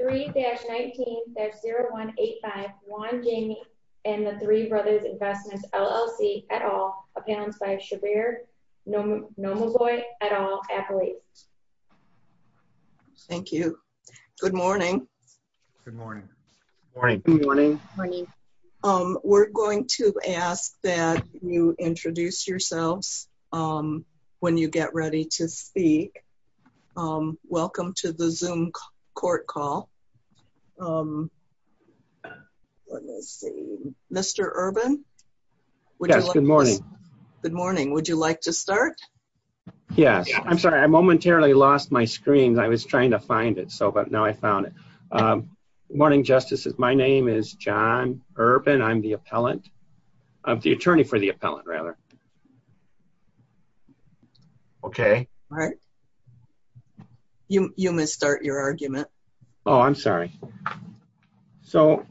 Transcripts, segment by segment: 3-19-0185 Juan Jamie and the Three Brothers Investments, LLC, et al. Appearance by Shabir Nomanbhoy, et al., athlete. Thank you. Good morning. Good morning. Good morning. Good morning. We're going to ask that you introduce yourselves when you get ready to speak. Welcome to the Zoom court call. Let me see. Mr. Urban? Yes, good morning. Good morning. Would you like to start? Yes. I'm sorry. I momentarily lost my screen. I was trying to find it, but now I found it. Good morning, Justices. My name is John Urban. I'm the appellant. I'm the attorney for the appellant, rather. Okay. All right. You missed your argument. Oh, I'm sorry. So,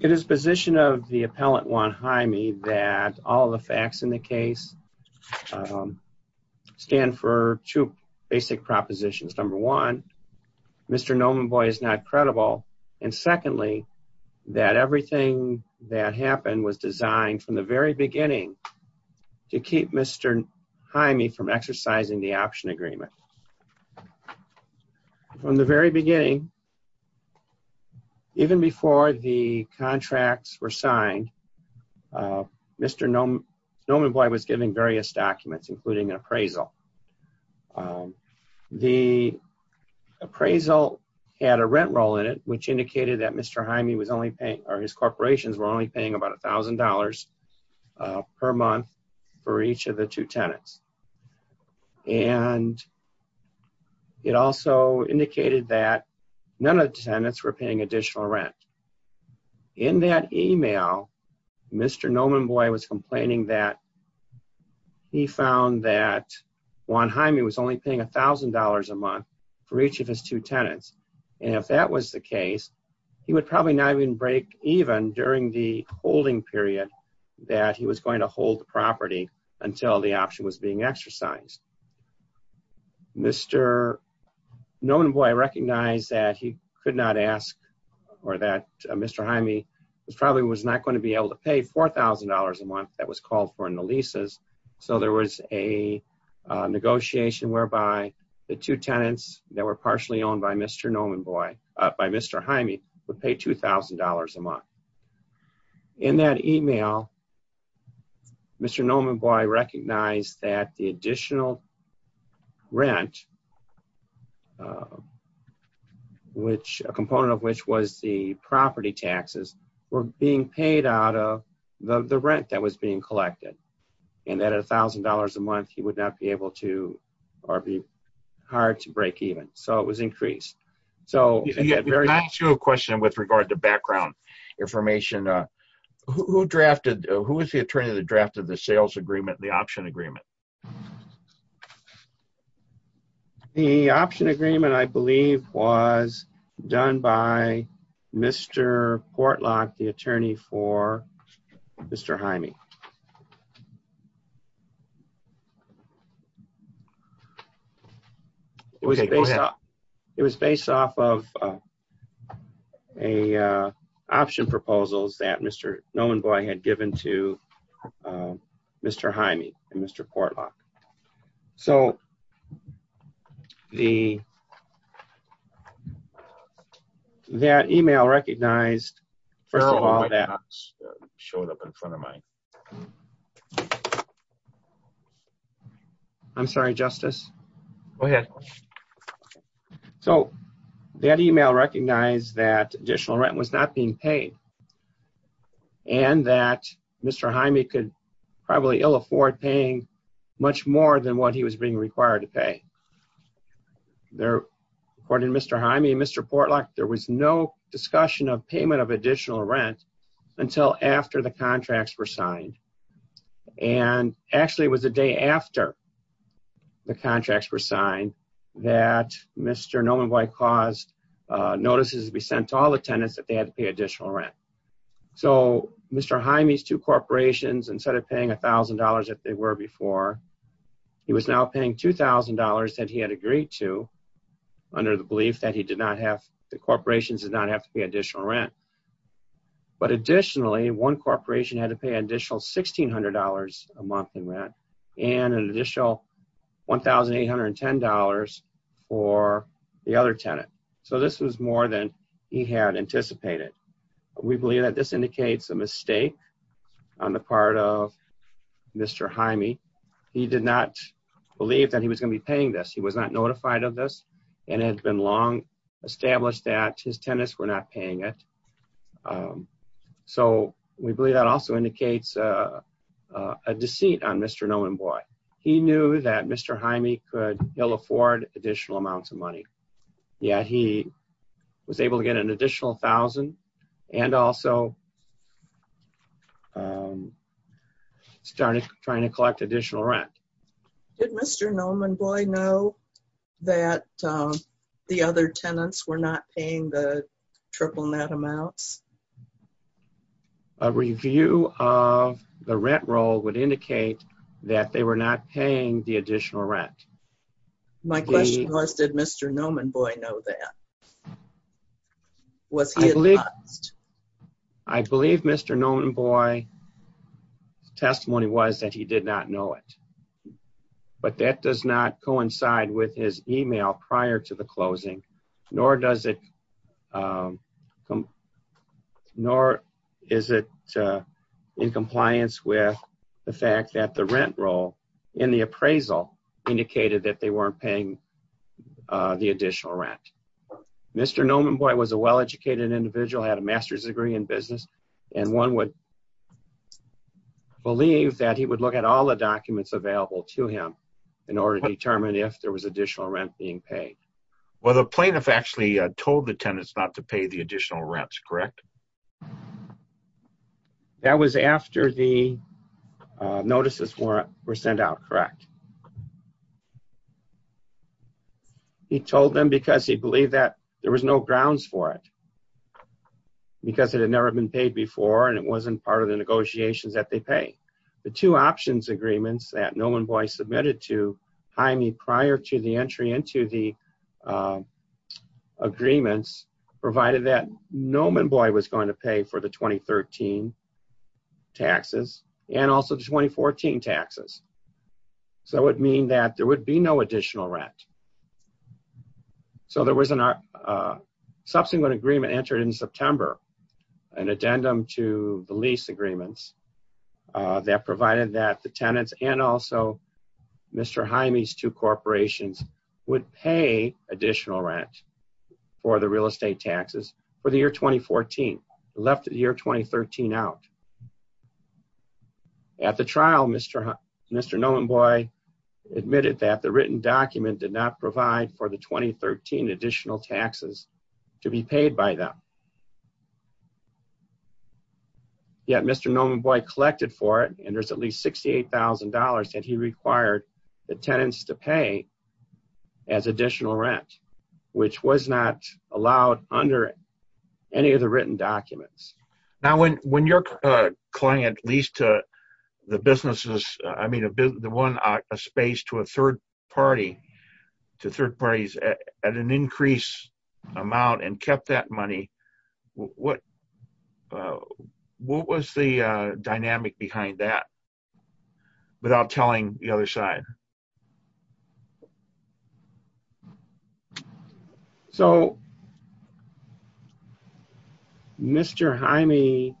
it is the position of the appellant, Juan Jamie, that all the facts in the case stand for two basic propositions. Number one, Mr. Nomanbhoy is not credible, and secondly, that everything that happened was designed from the very beginning to keep Mr. Jaime from exercising the option agreement. From the very beginning, even before the contracts were signed, Mr. Nomanbhoy was given various documents, including an appraisal. The appraisal had a rent roll in it, which indicated that Mr. Jaime was only paying, or his corporations, were only paying about a thousand dollars per month for each of the two tenants. And it also indicated that none of the tenants were paying additional rent. In that email, Mr. Nomanbhoy was Juan Jaime was only paying a thousand dollars a month for each of his two tenants, and if that was the case, he would probably not even break even during the holding period that he was going to hold the property until the option was being exercised. Mr. Nomanbhoy recognized that he could not ask, or that Mr. Jaime probably was not going to be able to pay four thousand dollars a month that was a negotiation whereby the two tenants that were partially owned by Mr. Nomanbhoy, by Mr. Jaime, would pay two thousand dollars a month. In that email, Mr. Nomanbhoy recognized that the additional rent, a component of which was the property taxes, were being paid out of the rent that was being collected, and that at a thousand dollars a month he would not be able to, or be hard to break even. So it was increased. So I asked you a question with regard to background information. Who drafted, who was the attorney that drafted the sales agreement, the option agreement? The option agreement, I believe, was done by Mr. Portlock, the attorney for Mr. Jaime. It was based off of a option proposals that Mr. Nomanbhoy had given to Mr. Jaime and Mr. Portlock. So the that email recognized, first of all, that showed up in front of mine. I'm sorry, Justice. Go ahead. So that email recognized that additional rent was not being paid, and that Mr. Jaime could probably ill afford paying much more than what he was being required to pay. According to Mr. Jaime and Mr. Portlock, there was no discussion of payment of additional rent until after the contracts were signed. And actually it was the day after the contracts were signed that Mr. Nomanbhoy caused notices to be sent to all the tenants that they had to pay additional rent. So Mr. Jaime's two corporations, instead of paying a thousand dollars that they were before, he was now paying two thousand dollars that he had agreed to under the belief that he did not have, the corporations did not have to pay additional rent. But additionally, one corporation had to pay an additional sixteen hundred dollars a month in rent and an additional one thousand eight hundred and ten dollars for the other tenant. So this was more than he had anticipated. We believe that this indicates a mistake on the part of Mr. Jaime. He did not believe that he was going to be paying this. He was not notified of this and it had been long established that his tenants were not paying it. So we believe that also indicates a deceit on Mr. Nomanbhoy. He knew that Mr. Jaime could ill afford additional amounts of money. Yet he was able to get an additional thousand and also started trying to collect additional rent. Did Mr. Nomanbhoy know that the other tenants were not paying the triple net amounts? A review of the rent roll would indicate that they were not paying the additional rent. My question was did Mr. Nomanbhoy know that? Was he advised? I believe Mr. Nomanbhoy's testimony was that he did not know it. But that does not coincide with his email prior to the closing, nor does it nor is it in compliance with the fact that the rent roll in the appraisal indicated that they weren't paying the additional rent. Mr. Nomanbhoy was a well-educated individual, had a master's degree in business, and one would believe that he would look at all the documents available to him in order to determine if there was additional rent being paid. Well the plaintiff actually told the tenants not to pay the additional rents, correct? That was after the notices were sent out, correct? He told them because he believed that there was no grounds for it, because it had never been paid before and it wasn't part of the negotiations that they pay. The two options agreements that Nomanbhoy submitted to Jaime prior to the entry into the agreements provided that Nomanbhoy was going to pay for the 2013 taxes and also the 2014 taxes. So it would mean that there would be no additional rent. So there was a subsequent agreement entered in September, an addendum to the lease agreements that provided that the tenants and also Mr. Jaime's two corporations would pay additional rent for the real estate taxes for the year 2014, left the year 2013 out. At the trial, Mr. Nomanbhoy admitted that the written document did not provide for the 2013 additional taxes to be paid by them. Yet Mr. Nomanbhoy collected for it and there's at least $68,000 that he required the tenants to pay as additional rent, which was not allowed under any of the written documents. Now when when your client leased to the businesses, I mean the one space to a third party, to third parties at an increased amount and kept that money, what was the dynamic behind that without telling the other side? So, Mr. Jaime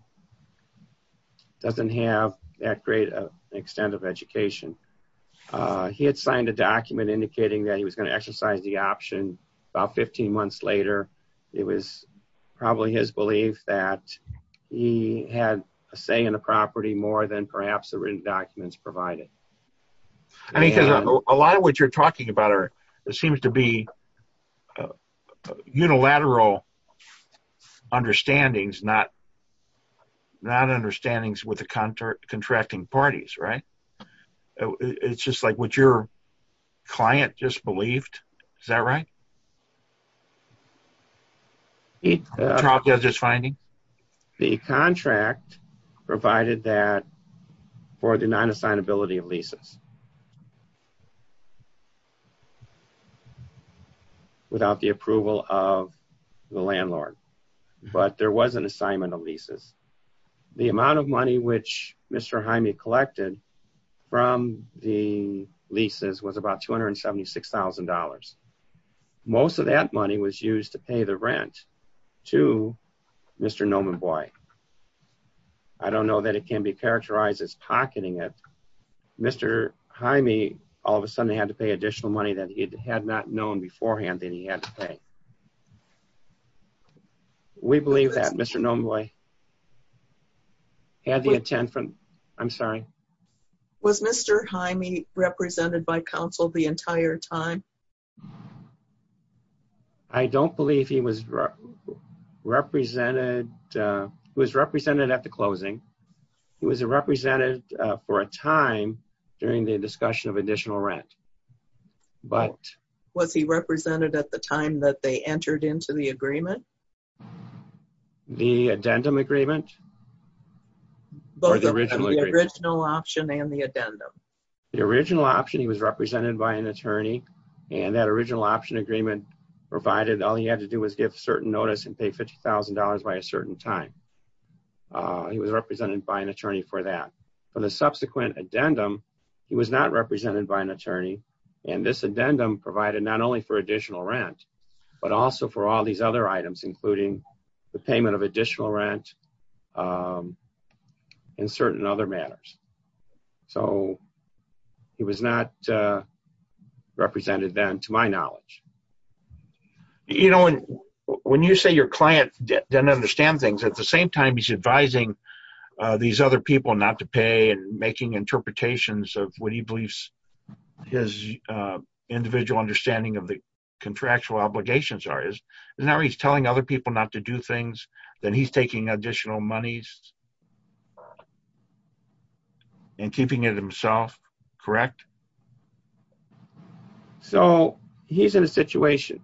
doesn't have that great of extent of education. He had signed a document indicating that he was going to exercise the option. About 15 months later, it was probably his belief that he had a say in the property more than perhaps the written documents provided. I mean, because a lot of what you're talking about are, it seems to be unilateral understandings, not not understandings with the contracting parties, right? It's just like what your client just believed. Is that right? The contract provided that for the non-assignability of leases without the approval of the landlord, but there was an assignment of leases. The amount of money which Mr. Jaime collected from the leases was about $276,000. Most of that money was used to pay the rent to Mr. Nomenboy. I don't know that it can be characterized as pocketing it. Mr. Jaime all of a sudden had to pay additional money that he had not known beforehand that he had to pay. We believe that Mr. Nomenboy had the intent from... I'm sorry? Was Mr. Jaime represented by council the entire time? I don't believe he was represented at the closing. He was represented for a time during the discussion of additional rent. Was he represented at the time that they entered into the agreement? The addendum agreement. Both the original option and the addendum. The original option he was represented by an attorney and that original option agreement provided all he had to do was give certain notice and pay $50,000 by a certain time. He was represented by an attorney for that. For the subsequent addendum, he was not represented by an attorney and this addendum provided not only for additional rent, but also for all these other items including the payment of additional rent in certain other matters. So he was not represented then to my knowledge. When you say your client doesn't understand things, at the same time he's advising these other people not to pay and making interpretations of what he believes his individual understanding of the contractual obligations are. Isn't that where he's telling other people not to do things? Then he's taking additional monies and keeping it himself, correct? So he's in a situation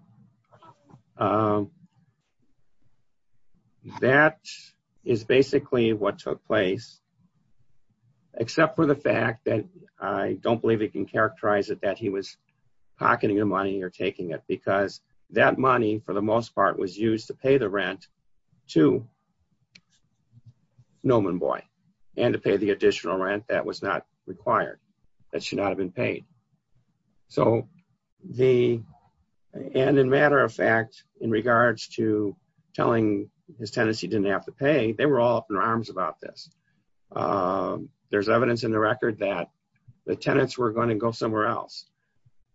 that is basically what took place except for the fact that I don't believe you can characterize it that he was for the most part was used to pay the rent to Noman Boy and to pay the additional rent that was not required, that should not have been paid. And in matter of fact, in regards to telling his tenants he didn't have to pay, they were all up in arms about this. There's evidence in the record that the tenants were going to go somewhere else.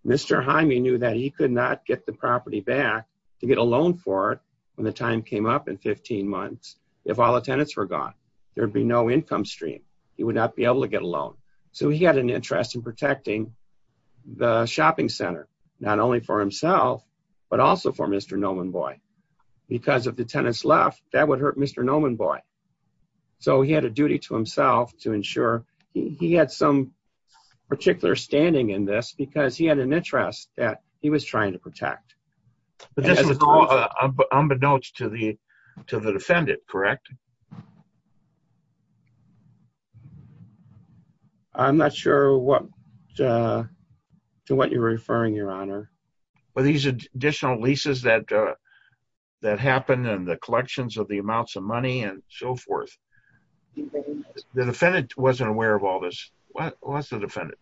Mr. Jaime knew that he could not get the property back to get a loan for it when the time came up in 15 months if all the tenants were gone. There would be no income stream. He would not be able to get a loan. So he had an interest in protecting the shopping center not only for himself but also for Mr. Noman Boy. Because if the tenants left that would hurt Mr. Noman Boy. So he had a duty to himself to ensure he had some particular standing in this because he had an interest that he was trying to protect. But this was all unbeknownst to the defendant, correct? I'm not sure what to what you're referring, your honor. Well these additional leases that happened and the collections of the amounts of money and so forth. The defendant wasn't aware of all of this. It wasn't the defendant.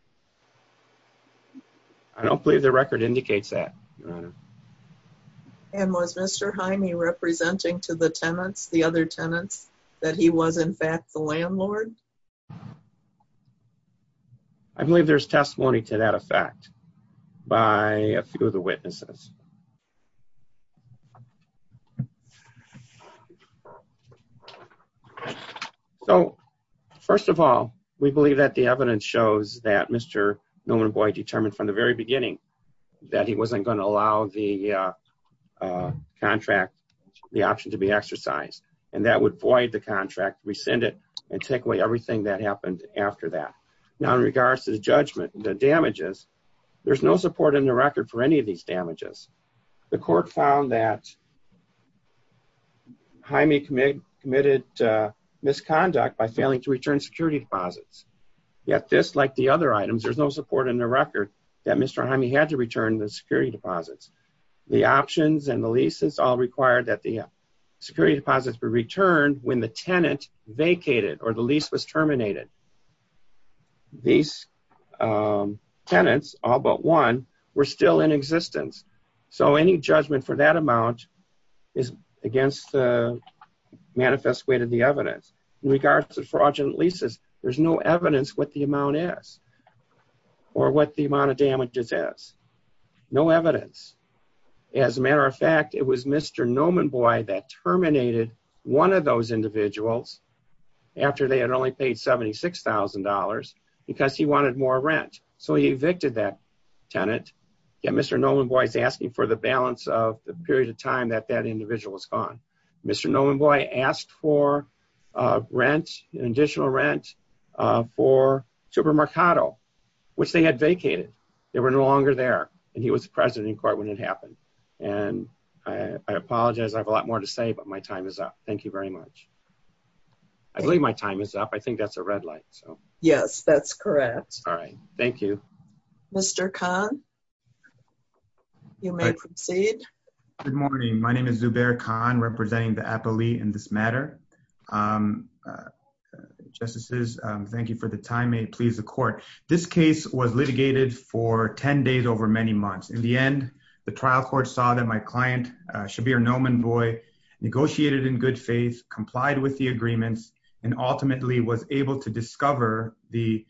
I don't believe the record indicates that, your honor. And was Mr. Jaime representing to the tenants, the other tenants, that he was in fact the landlord? I believe there's testimony to that effect by a few of the witnesses. So first of all we believe that the evidence shows that Mr. Noman Boy determined from the very beginning that he wasn't going to allow the contract, the option to be exercised. And that would void the contract, rescind it, and take away everything that happened after that. Now in regards to the judgment, the damages, there's no support in the record for any The court found that Jaime committed misconduct by failing to return security deposits. Yet this, like the other items, there's no support in the record that Mr. Jaime had to return the security deposits. The options and the leases all required that the security deposits be returned when the tenant vacated or the lease was terminated. These tenants, all but one, were still in existence. So any judgment for that amount is against the manifested weight of the evidence. In regards to fraudulent leases, there's no evidence what the amount is or what the amount of damages is. No evidence. As a matter of fact, it was Mr. Noman Boy that terminated one of those individuals after they had only paid $76,000 because he wanted more rent. So he evicted that tenant. Yet Mr. Noman Boy is asking for the balance of the period of time that that individual was gone. Mr. Noman Boy asked for rent, additional rent, for Super Mercado, which they had vacated. They were no longer there. And he was president in court when it happened. And I apologize, I have a lot more to say, but my time is up. Thank you very much. I believe my time is up. I think that's a yes, that's correct. All right, thank you. Mr. Khan, you may proceed. Good morning, my name is Zubair Khan, representing the appellee in this matter. Justices, thank you for the time. May it please the court. This case was litigated for 10 days over many months. In the end, the trial court saw that my client, Shabir Noman Boy, negotiated in good faith, complied with the agreements, and ultimately was able to discover the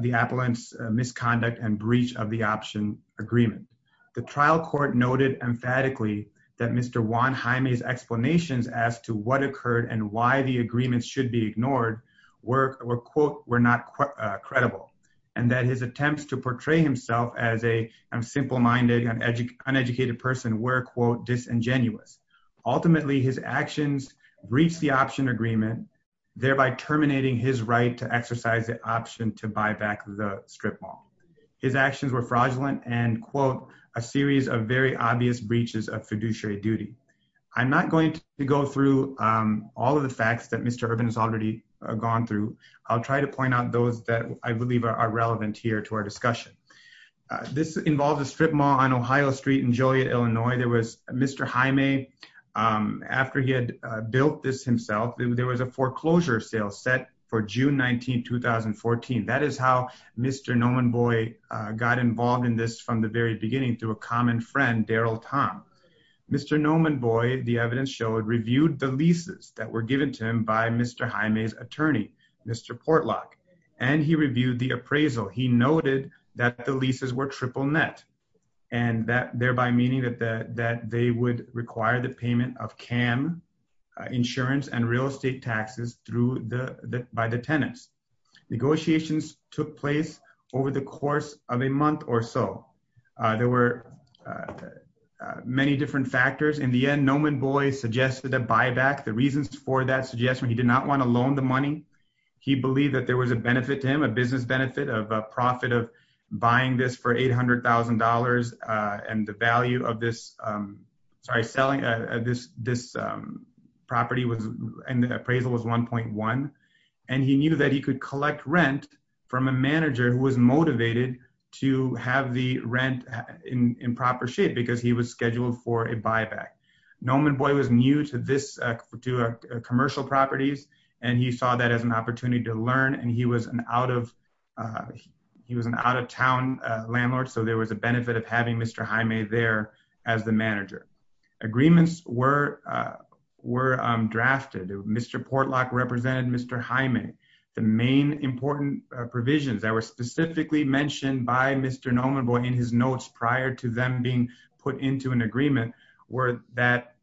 the appellant's misconduct and breach of the option agreement. The trial court noted emphatically that Mr. Juan Jaime's explanations as to what occurred and why the agreements should be ignored were, quote, were not credible, and that his attempts to portray himself as a simple-minded, uneducated person were, quote, disingenuous. Ultimately, his actions breached the option agreement, thereby terminating his right to exercise the option to buy back the strip mall. His actions were fraudulent and, quote, a series of very obvious breaches of fiduciary duty. I'm not going to go through all of the facts that Mr. Urban has already gone through. I'll try to point out those that I believe are relevant here to our discussion. This involved a strip mall on Ohio Street in Joliet, Illinois. There he had built this himself. There was a foreclosure sale set for June 19, 2014. That is how Mr. Nomenboy got involved in this from the very beginning through a common friend, Daryl Tom. Mr. Nomenboy, the evidence showed, reviewed the leases that were given to him by Mr. Jaime's attorney, Mr. Portlock, and he reviewed the appraisal. He noted that the leases were triple net and that thereby meaning that that they would require the payment of CAM insurance and real estate taxes through the by the tenants. Negotiations took place over the course of a month or so. There were many different factors. In the end, Nomenboy suggested a buyback. The reasons for that suggestion, he did not want to loan the money. He believed that there was a benefit to him, a business benefit of a profit of buying this for $800,000 and the value of this, sorry, selling this property was, and the appraisal was $1.1, and he knew that he could collect rent from a manager who was motivated to have the rent in proper shape because he was scheduled for a buyback. Nomenboy was new to this, to commercial properties, and he saw that as an opportunity to learn and he was an out of, he was an out-of-town landlord, so there was a benefit of having Mr. Jaime there as the manager. Agreements were drafted. Mr. Portlock represented Mr. Jaime. The main important provisions that were specifically mentioned by Mr. Nomenboy in his notes prior to them being put into an agreement were that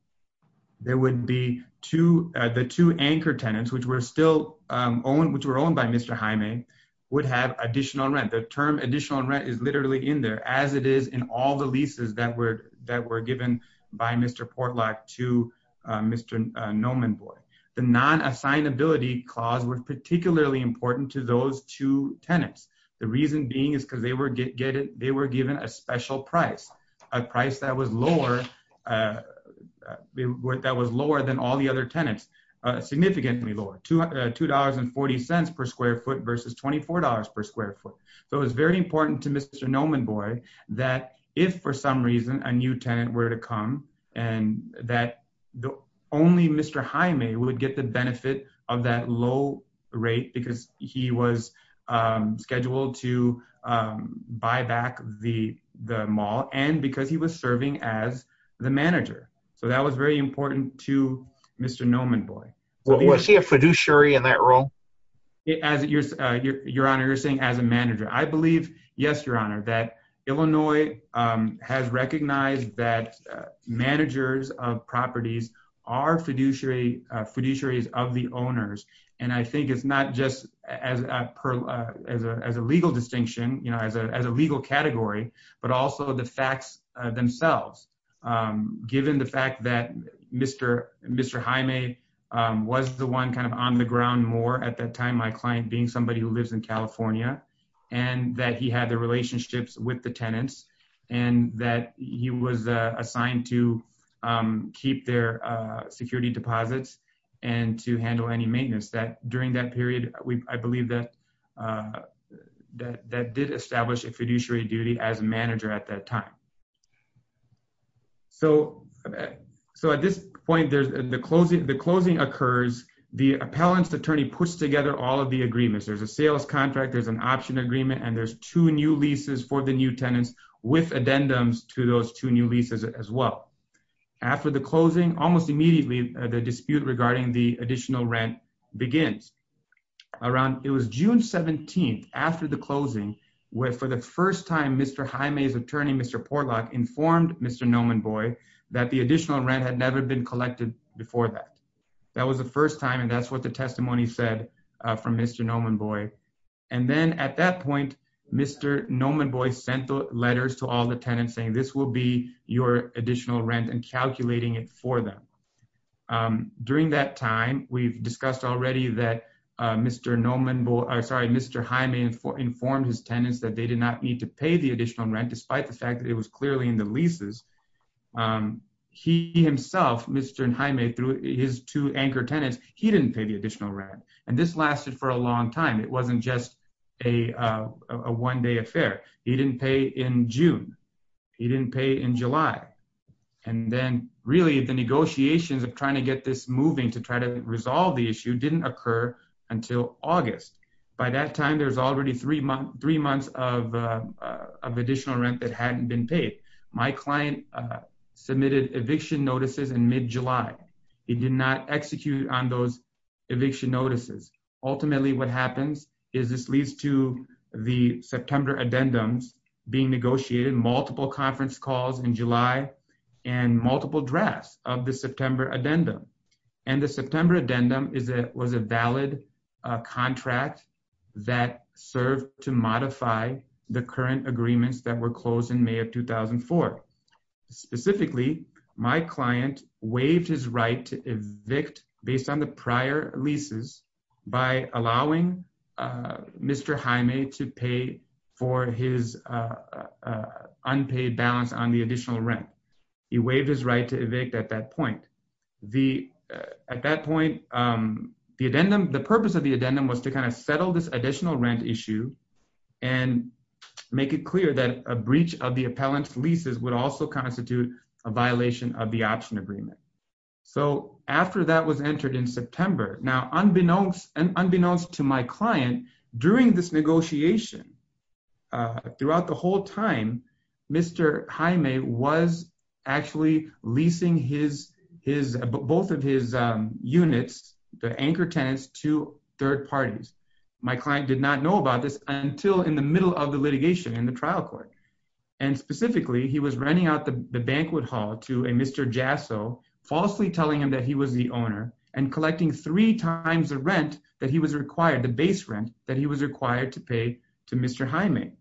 there would be two, the two anchor tenants, which were still owned, which were owned by Mr. Jaime, would have additional rent. The term additional rent is literally in there as it is in all the leases that were, that were given by Mr. Portlock to Mr. Nomenboy. The non-assignability clause was particularly important to those two tenants, the reason being is because they were getting, they were given a special price, a price that was lower, that was lower than all the other tenants, significantly lower, $2.40 per square foot versus $24 per square foot, so it was very important to Mr. Nomenboy that if for some reason a new tenant were to come and that the only Mr. Jaime would get the benefit of that low rate because he was scheduled to buy back the the mall and because he was serving as the manager, so that was very important to Mr. Nomenboy. Was he a fiduciary in that role? As your, your honor, you're saying as a judge that Illinois has recognized that managers of properties are fiduciary, fiduciaries of the owners and I think it's not just as a, as a legal distinction, you know, as a, as a legal category but also the facts themselves, given the fact that Mr. Mr. Jaime was the one kind of on the ground more at that time, my client being somebody who lives in California and that he had the relationships with the tenants and that he was assigned to keep their security deposits and to handle any maintenance that during that period we, I believe that, that that did establish a fiduciary duty as a manager at that time. So, so at this point there's the closing, the closing occurs, the appellant's attorney puts together all of the agreements, there's a sales contract, there's an option agreement and there's two new leases for the new tenants with addendums to those two new leases as well. After the closing, almost immediately the dispute regarding the additional rent begins. Around, it was June 17th after the closing, where for the first time Mr. Jaime's attorney, Mr. Portlock informed Mr. Nomenboy that the additional rent had never been collected before that. That was the first time and that's what the testimony said from Mr. Nomenboy and then at that point Mr. Nomenboy sent the letters to all the tenants saying this will be your additional rent and calculating it for them. During that time, we've discussed already that Mr. Nomenboy, I'm sorry, Mr. Jaime informed his tenants that they did not need to pay the additional rent despite the fact that it was clearly in the leases. He himself, Mr. Nomenboy, through his two anchor tenants, he didn't pay the additional rent and this lasted for a long time. It wasn't just a one-day affair. He didn't pay in June. He didn't pay in July and then really the negotiations of trying to get this moving to try to resolve the issue didn't occur until August. By that time, there's already three months of additional rent that hadn't been paid. My client submitted eviction notices in mid-July. He did not execute on those eviction notices. Ultimately, what happens is this leads to the September addendums being negotiated. Multiple conference calls in July and multiple drafts of the September addendum and the September addendum was a valid contract that served to modify the current agreements that were closed in May of 2004. Specifically, my client waived his right to evict based on the prior leases by allowing Mr. Jaime to pay for his unpaid balance on the additional rent. He waived his right to evict at that point. At that point, the purpose of the addendum was to kind of settle this additional rent issue and make it clear that a breach of the appellant's leases would also constitute a violation of the option agreement. After that was entered in September, now unbeknownst to my client, during this negotiation, throughout the whole time, Mr. Jaime was actually leasing both of his units, the anchor tenants, to third parties. My client did not know about this until in the middle of the litigation in the trial court. Specifically, he was renting out the banquet hall to a Mr. Jasso, falsely telling him that he was the owner and collecting three times the rent that he was required, the base rent, that he was required to pay to Mr. Jaime.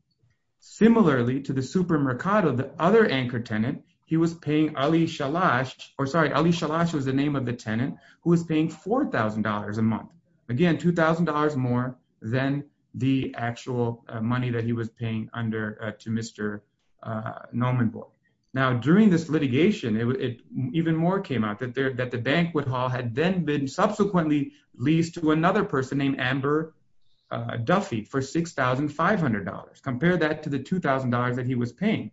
Similarly to the supermercado, the other anchor tenant, he was paying Ali Shalash, or sorry, Ali Shalash was the name of the tenant, who was paying $4,000 a month. Again, $2,000 more than the actual money that he was paying to Mr. Nomenboy. Now, during this litigation, even more came out, that the banquet hall had then been subsequently leased to another person named Amber Duffy for $6,500. Compare that to the $2,000 that he was paying.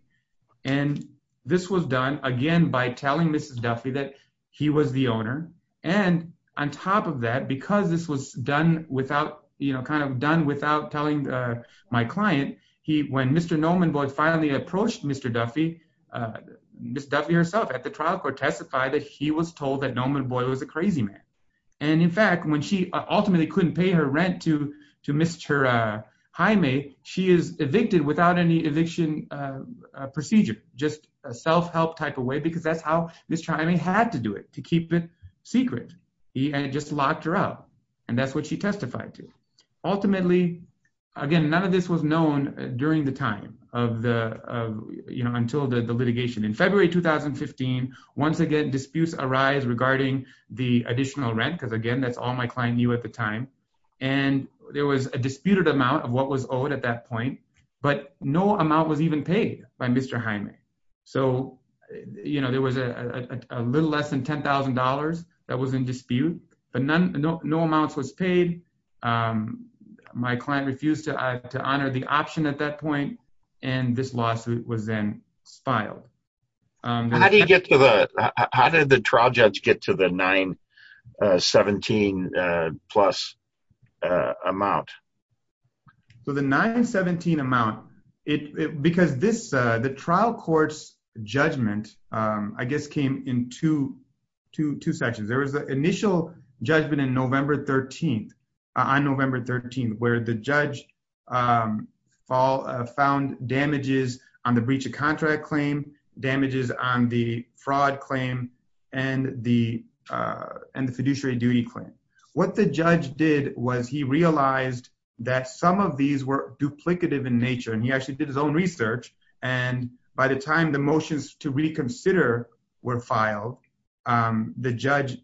And this was done, again, by telling Mrs. Duffy that he was the owner. And on top of that, because this was done without, you know, kind of done without telling my client, he, when Mr. Nomenboy finally approached Mr. Duffy, Mrs. Duffy herself at the trial court testified that he was told that Nomenboy was a crazy man. And in fact, when she ultimately couldn't pay her rent to to Mr. Jaime, she is evicted without any eviction procedure, just a self-help type of way, because that's how Mr. Jaime had to do it, to keep it secret. He just locked her up, and that's what she testified to. Ultimately, again, none of this was known during the time of the, you know, until the litigation. In February 2015, once again, disputes arise regarding the additional rent, because again, that's all my client knew at the time. And there was a disputed amount of what was owed at that point, but no amount was even paid by Mr. Jaime. So, you know, there was a little less than $10,000 that was in dispute, but none, no amounts was paid. My client refused to honor the option at that point, and this lawsuit was then filed. How did you get to the, how did the trial judge get to the $917,000 plus amount? So the $917,000 amount, it, because this, the trial court's judgment, I guess, came in two sections. There was the initial judgment in November 13th, on November 13th, where the judge found damages on the breach of contract claim, damages on the fraud claim, and the fiduciary duty claim. What the judge did was he realized that some of these were fraudulent, and by the time the motions to reconsider were filed, the judge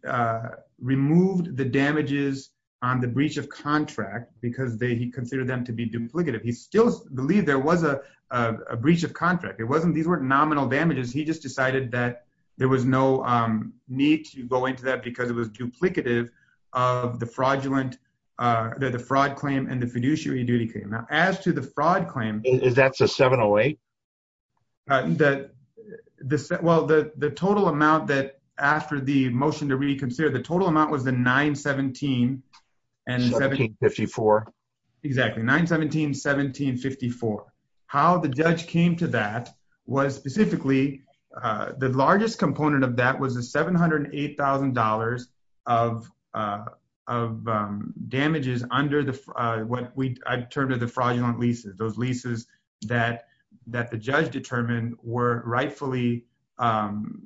removed the damages on the breach of contract, because they, he considered them to be duplicative. He still believed there was a breach of contract. It wasn't, these weren't nominal damages, he just decided that there was no need to go into that because it was duplicative of the fraudulent, the fraud claim and the fiduciary duty claim. Now, as to the fraud claim, that's a 708? Well, the total amount that, after the motion to reconsider, the total amount was the $917,000 and $1754,000. Exactly, $917,000, $1754,000. How the judge came to that was specifically, the largest component of that was the $708,000 of damages under the, what I've termed as the fraudulent leases, those leases that the judge determined were rightfully caused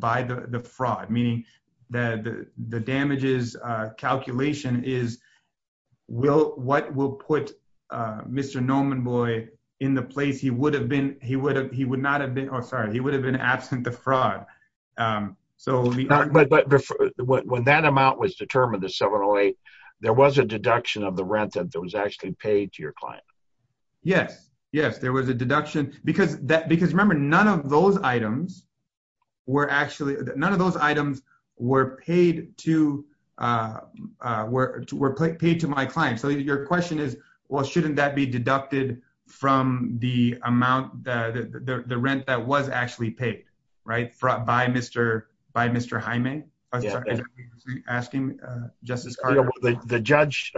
by the fraud, meaning that the damages calculation is what will put Mr. Nomenboy in the place he would have been, he would have, he would not have been, oh sorry, he would have been absent the fraud. But when that amount was determined, the 708, there was a deduction of the rent that was actually paid to your client? Yes, yes, there was a deduction because remember, none of those items were actually, none of those items were paid to my client. So your question is, well, shouldn't that be deducted from the amount, the rent that was actually paid, right, by Mr. Jaime? Asking Justice Carter. The judge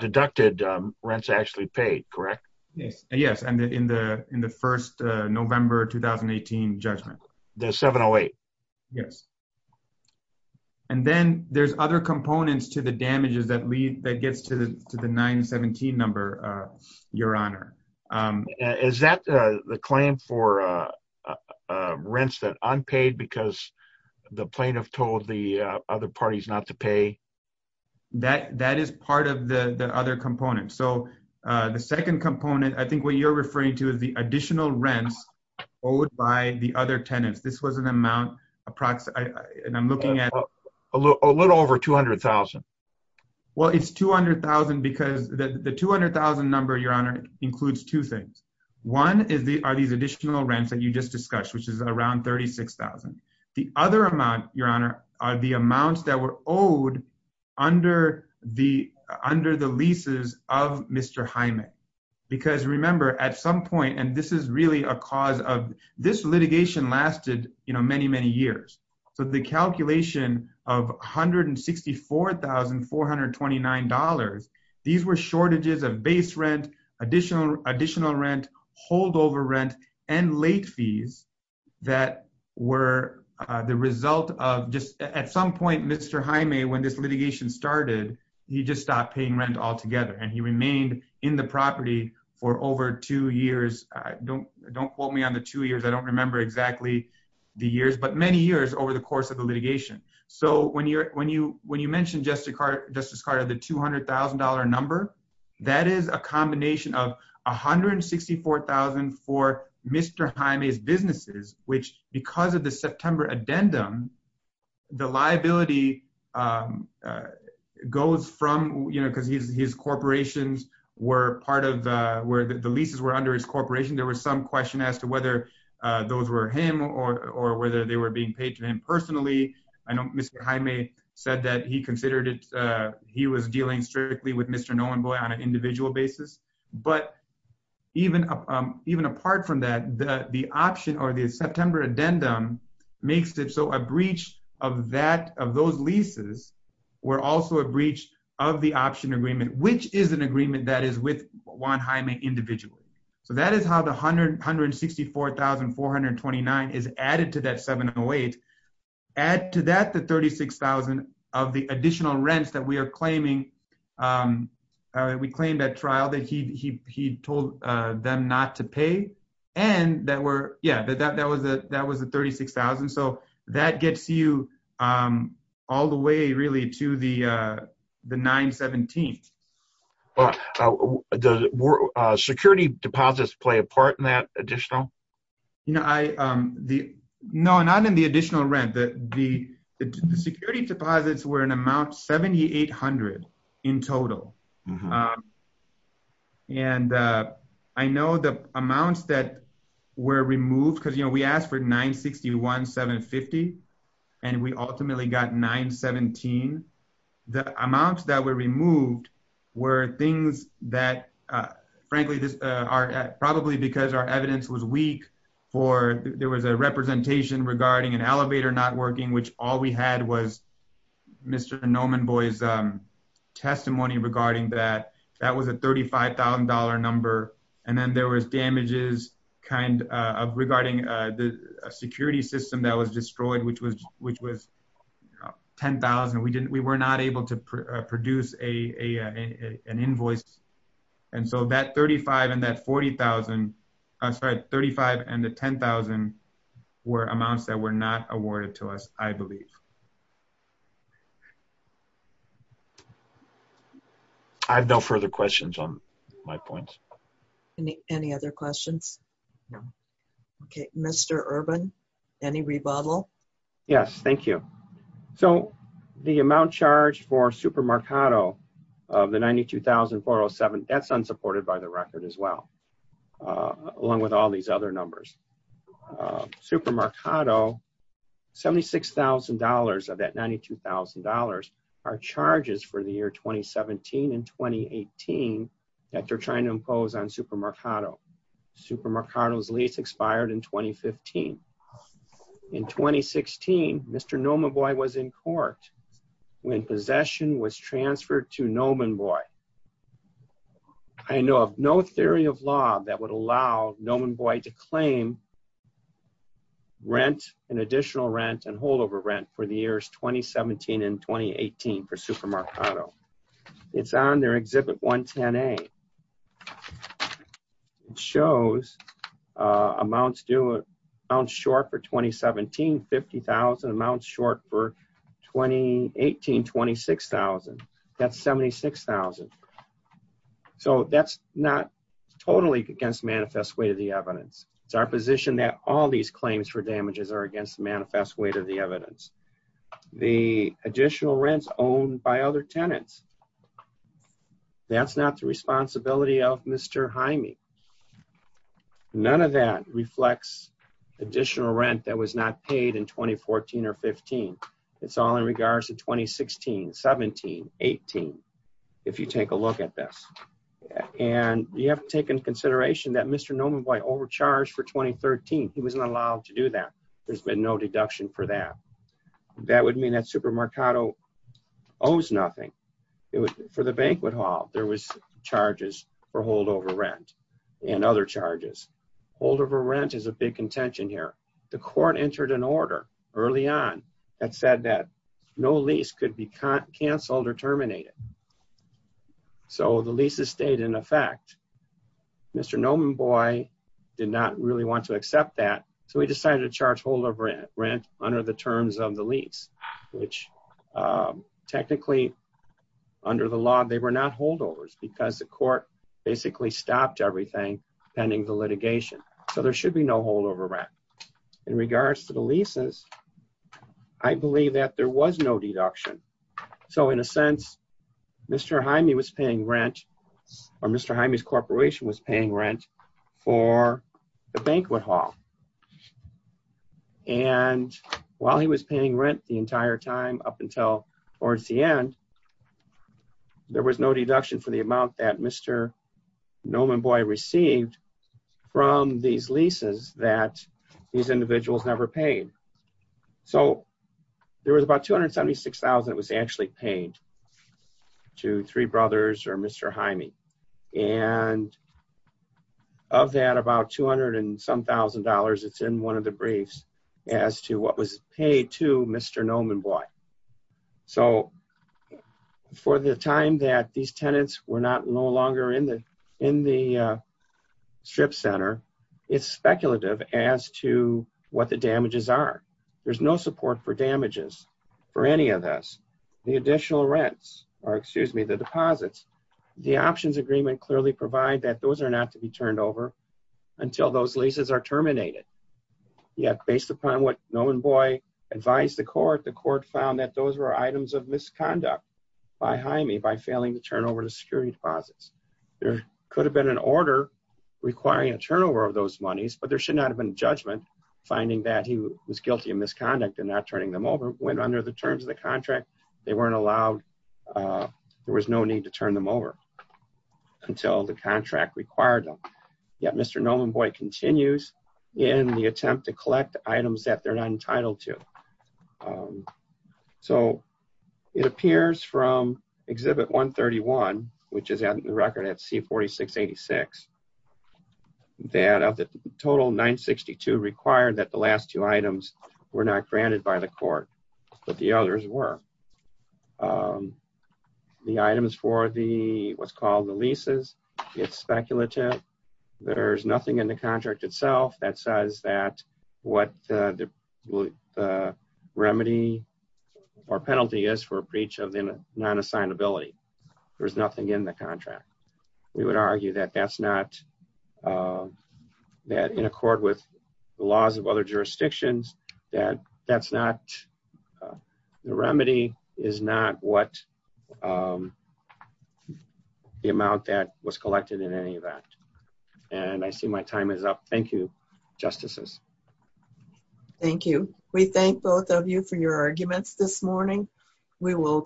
deducted rents actually paid, correct? Yes, yes, and in the in the first November 2018 judgment. The 708? Yes. And then there's other components to the damages that lead, that gets to the 917 number, your honor. Is that the claim for rents that unpaid because the plaintiff told the other parties not to pay? That is part of the the other component. So the second component, I think what you're referring to is the additional rents owed by the other tenants. This was an amount approximately, and I'm looking at a little over 200,000. Well, it's 200,000 because the 200,000 number, your honor, includes two things. One is the, are these additional rents that you just discussed, which is around 36,000. The other amount, your honor, are the amounts that were owed under the, under the leases of Mr. Jaime. Because remember, at some point, and this is really a cause of, this litigation lasted, you know, many, many years. So the calculation of $164,429, these were shortages of base rent, additional, additional rent, holdover rent, and late fees that were the result of just, at some point, Mr. Jaime, when this litigation started, he just stopped paying rent altogether and he remained in the property for over two years. Don't, don't quote me on the two years. I don't remember exactly the years, but many years over the course of the litigation. So when you're, when you, when you look at the $164,429 number, that is a combination of $164,000 for Mr. Jaime's businesses, which, because of the September addendum, the liability goes from, you know, because his, his corporations were part of the, where the leases were under his corporation. There was some question as to whether those were him or, or whether they were being paid to him personally. I know Mr. Jaime said that he was dealing strictly with Mr. Nolenboy on an individual basis, but even, even apart from that, the option or the September addendum makes it so a breach of that, of those leases were also a breach of the option agreement, which is an agreement that is with Juan Jaime individually. So that is how the $164,429 is added to that $708,000. Add to that the $36,000 of the additional rents that we are claiming, we claimed at trial that he, he, he told them not to pay and that were, yeah, but that, that was the, that was the $36,000. So that gets you all the way really to the, the $917,000. Does security deposits play a part in that additional rent? The, the security deposits were an amount $7,800 in total. And I know the amounts that were removed because, you know, we asked for $961,750 and we ultimately got $917,000. The amounts that were removed were things that, frankly, this are probably because our evidence was weak for, there was a representation regarding an elevator not working, which all we had was Mr. Nomenboy's testimony regarding that. That was a $35,000 number and then there was damages kind of regarding the security system that was destroyed, which was, which was $10,000. We didn't, we were not able to produce a, an invoice. And so that $35,000 and that $40,000, I'm sorry, $35,000 and the $10,000 were amounts that were not awarded to us, I believe. I have no further questions on my points. Any other questions? No. Okay, Mr. Urban, any rebuttal? Yes, thank you. So the amount charged for Super Marcato of the $92,407, that's unsupported by the record as well, along with all these other numbers. Super Marcato, $76,000 of that $92,000 are charges for the year 2017 and 2018 that they're trying to impose on Super Marcato. Super Marcato's lease expired in 2015. In 2016, Mr. Nomenboy was in court when possession was transferred to Nomenboy. I know of no theory of law that would allow Nomenboy to claim rent and additional rent and holdover rent for the years 2017 and 2018 for Super Marcato. It's on their Exhibit 110A. It shows amounts due, amounts short for 2017, $50,000, amounts short for 2018, $26,000. That's $76,000. So that's not totally against manifest weight of the evidence. It's our position that all these claims for damages are against the manifest weight of the evidence. The additional rents owned by other tenants, that's not the responsibility of Mr. Jaime. None of that reflects additional rent that was not paid in 2014 or 15. It's all in regards to 2016, 17, 18, if you take a look at this. And you have to take into consideration that Mr. Nomenboy overcharged for 2013. He wasn't allowed to do that. There's been no deduction for that. That would mean that Super Marcato owes nothing. For the banquet hall, there was charges for holdover rent and other charges. Holdover rent is a big contention here. The court entered an order early on that said that no lease could be canceled or terminated. So the leases stayed in effect. Mr. Nomenboy did not really want to accept that, so he decided to charge holdover rent under the terms of the lease, which technically, under the law, they were not holdovers because the court basically stopped everything pending the In regards to the leases, I believe that there was no deduction. So in a sense, Mr. Jaime was paying rent, or Mr. Jaime's corporation was paying rent for the banquet hall. And while he was paying rent the entire time up until towards the end, there was no deduction for the amount that Mr. Nomenboy received from these leases that these individuals never paid. So there was about $276,000 that was actually paid to three brothers or Mr. Jaime. And of that, about $200 and some thousand dollars, it's in one of the briefs, as to what was paid to Mr. Nomenboy. So for the time that these tenants were not no longer in the strip center, it's speculative as to what the damages are. There's no support for damages for any of this. The additional rents, or excuse me, the deposits, the options agreement clearly provide that those are not to be turned over until those leases are terminated. Yet, based upon what Nomenboy advised the court, the court found that those were items of misconduct by Jaime by failing to turn over the security deposits. There could have been an order requiring a turnover of those monies, but there should not have been judgment finding that he was guilty of misconduct and not turning them over. When under the terms of the contract, they weren't allowed, there was no need to turn them over until the contract required them. Yet, Mr. Nomenboy continues in the attempt to collect items that they're not entitled to. So it appears from Exhibit 131, which is on the record at C-4686, that of the total, 962 required that the last two items were not granted by the court, but the others were. The items for the what's called the leases, it's speculative. There's nothing in the contract itself that says that what the remedy or penalty is for breach of the non-assignability. There's nothing in the contract. We would argue that that's not, that in accord with the laws of other jurisdictions, that that's not, the remedy is not what the amount that was collected in any event. And I see my time is up. Thank you, Justices. Thank you. We thank both of you for your time. This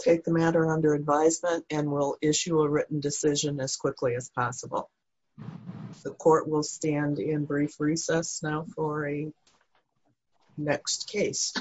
is a matter under advisement and we'll issue a written decision as quickly as possible. The court will stand in brief recess now for a next case.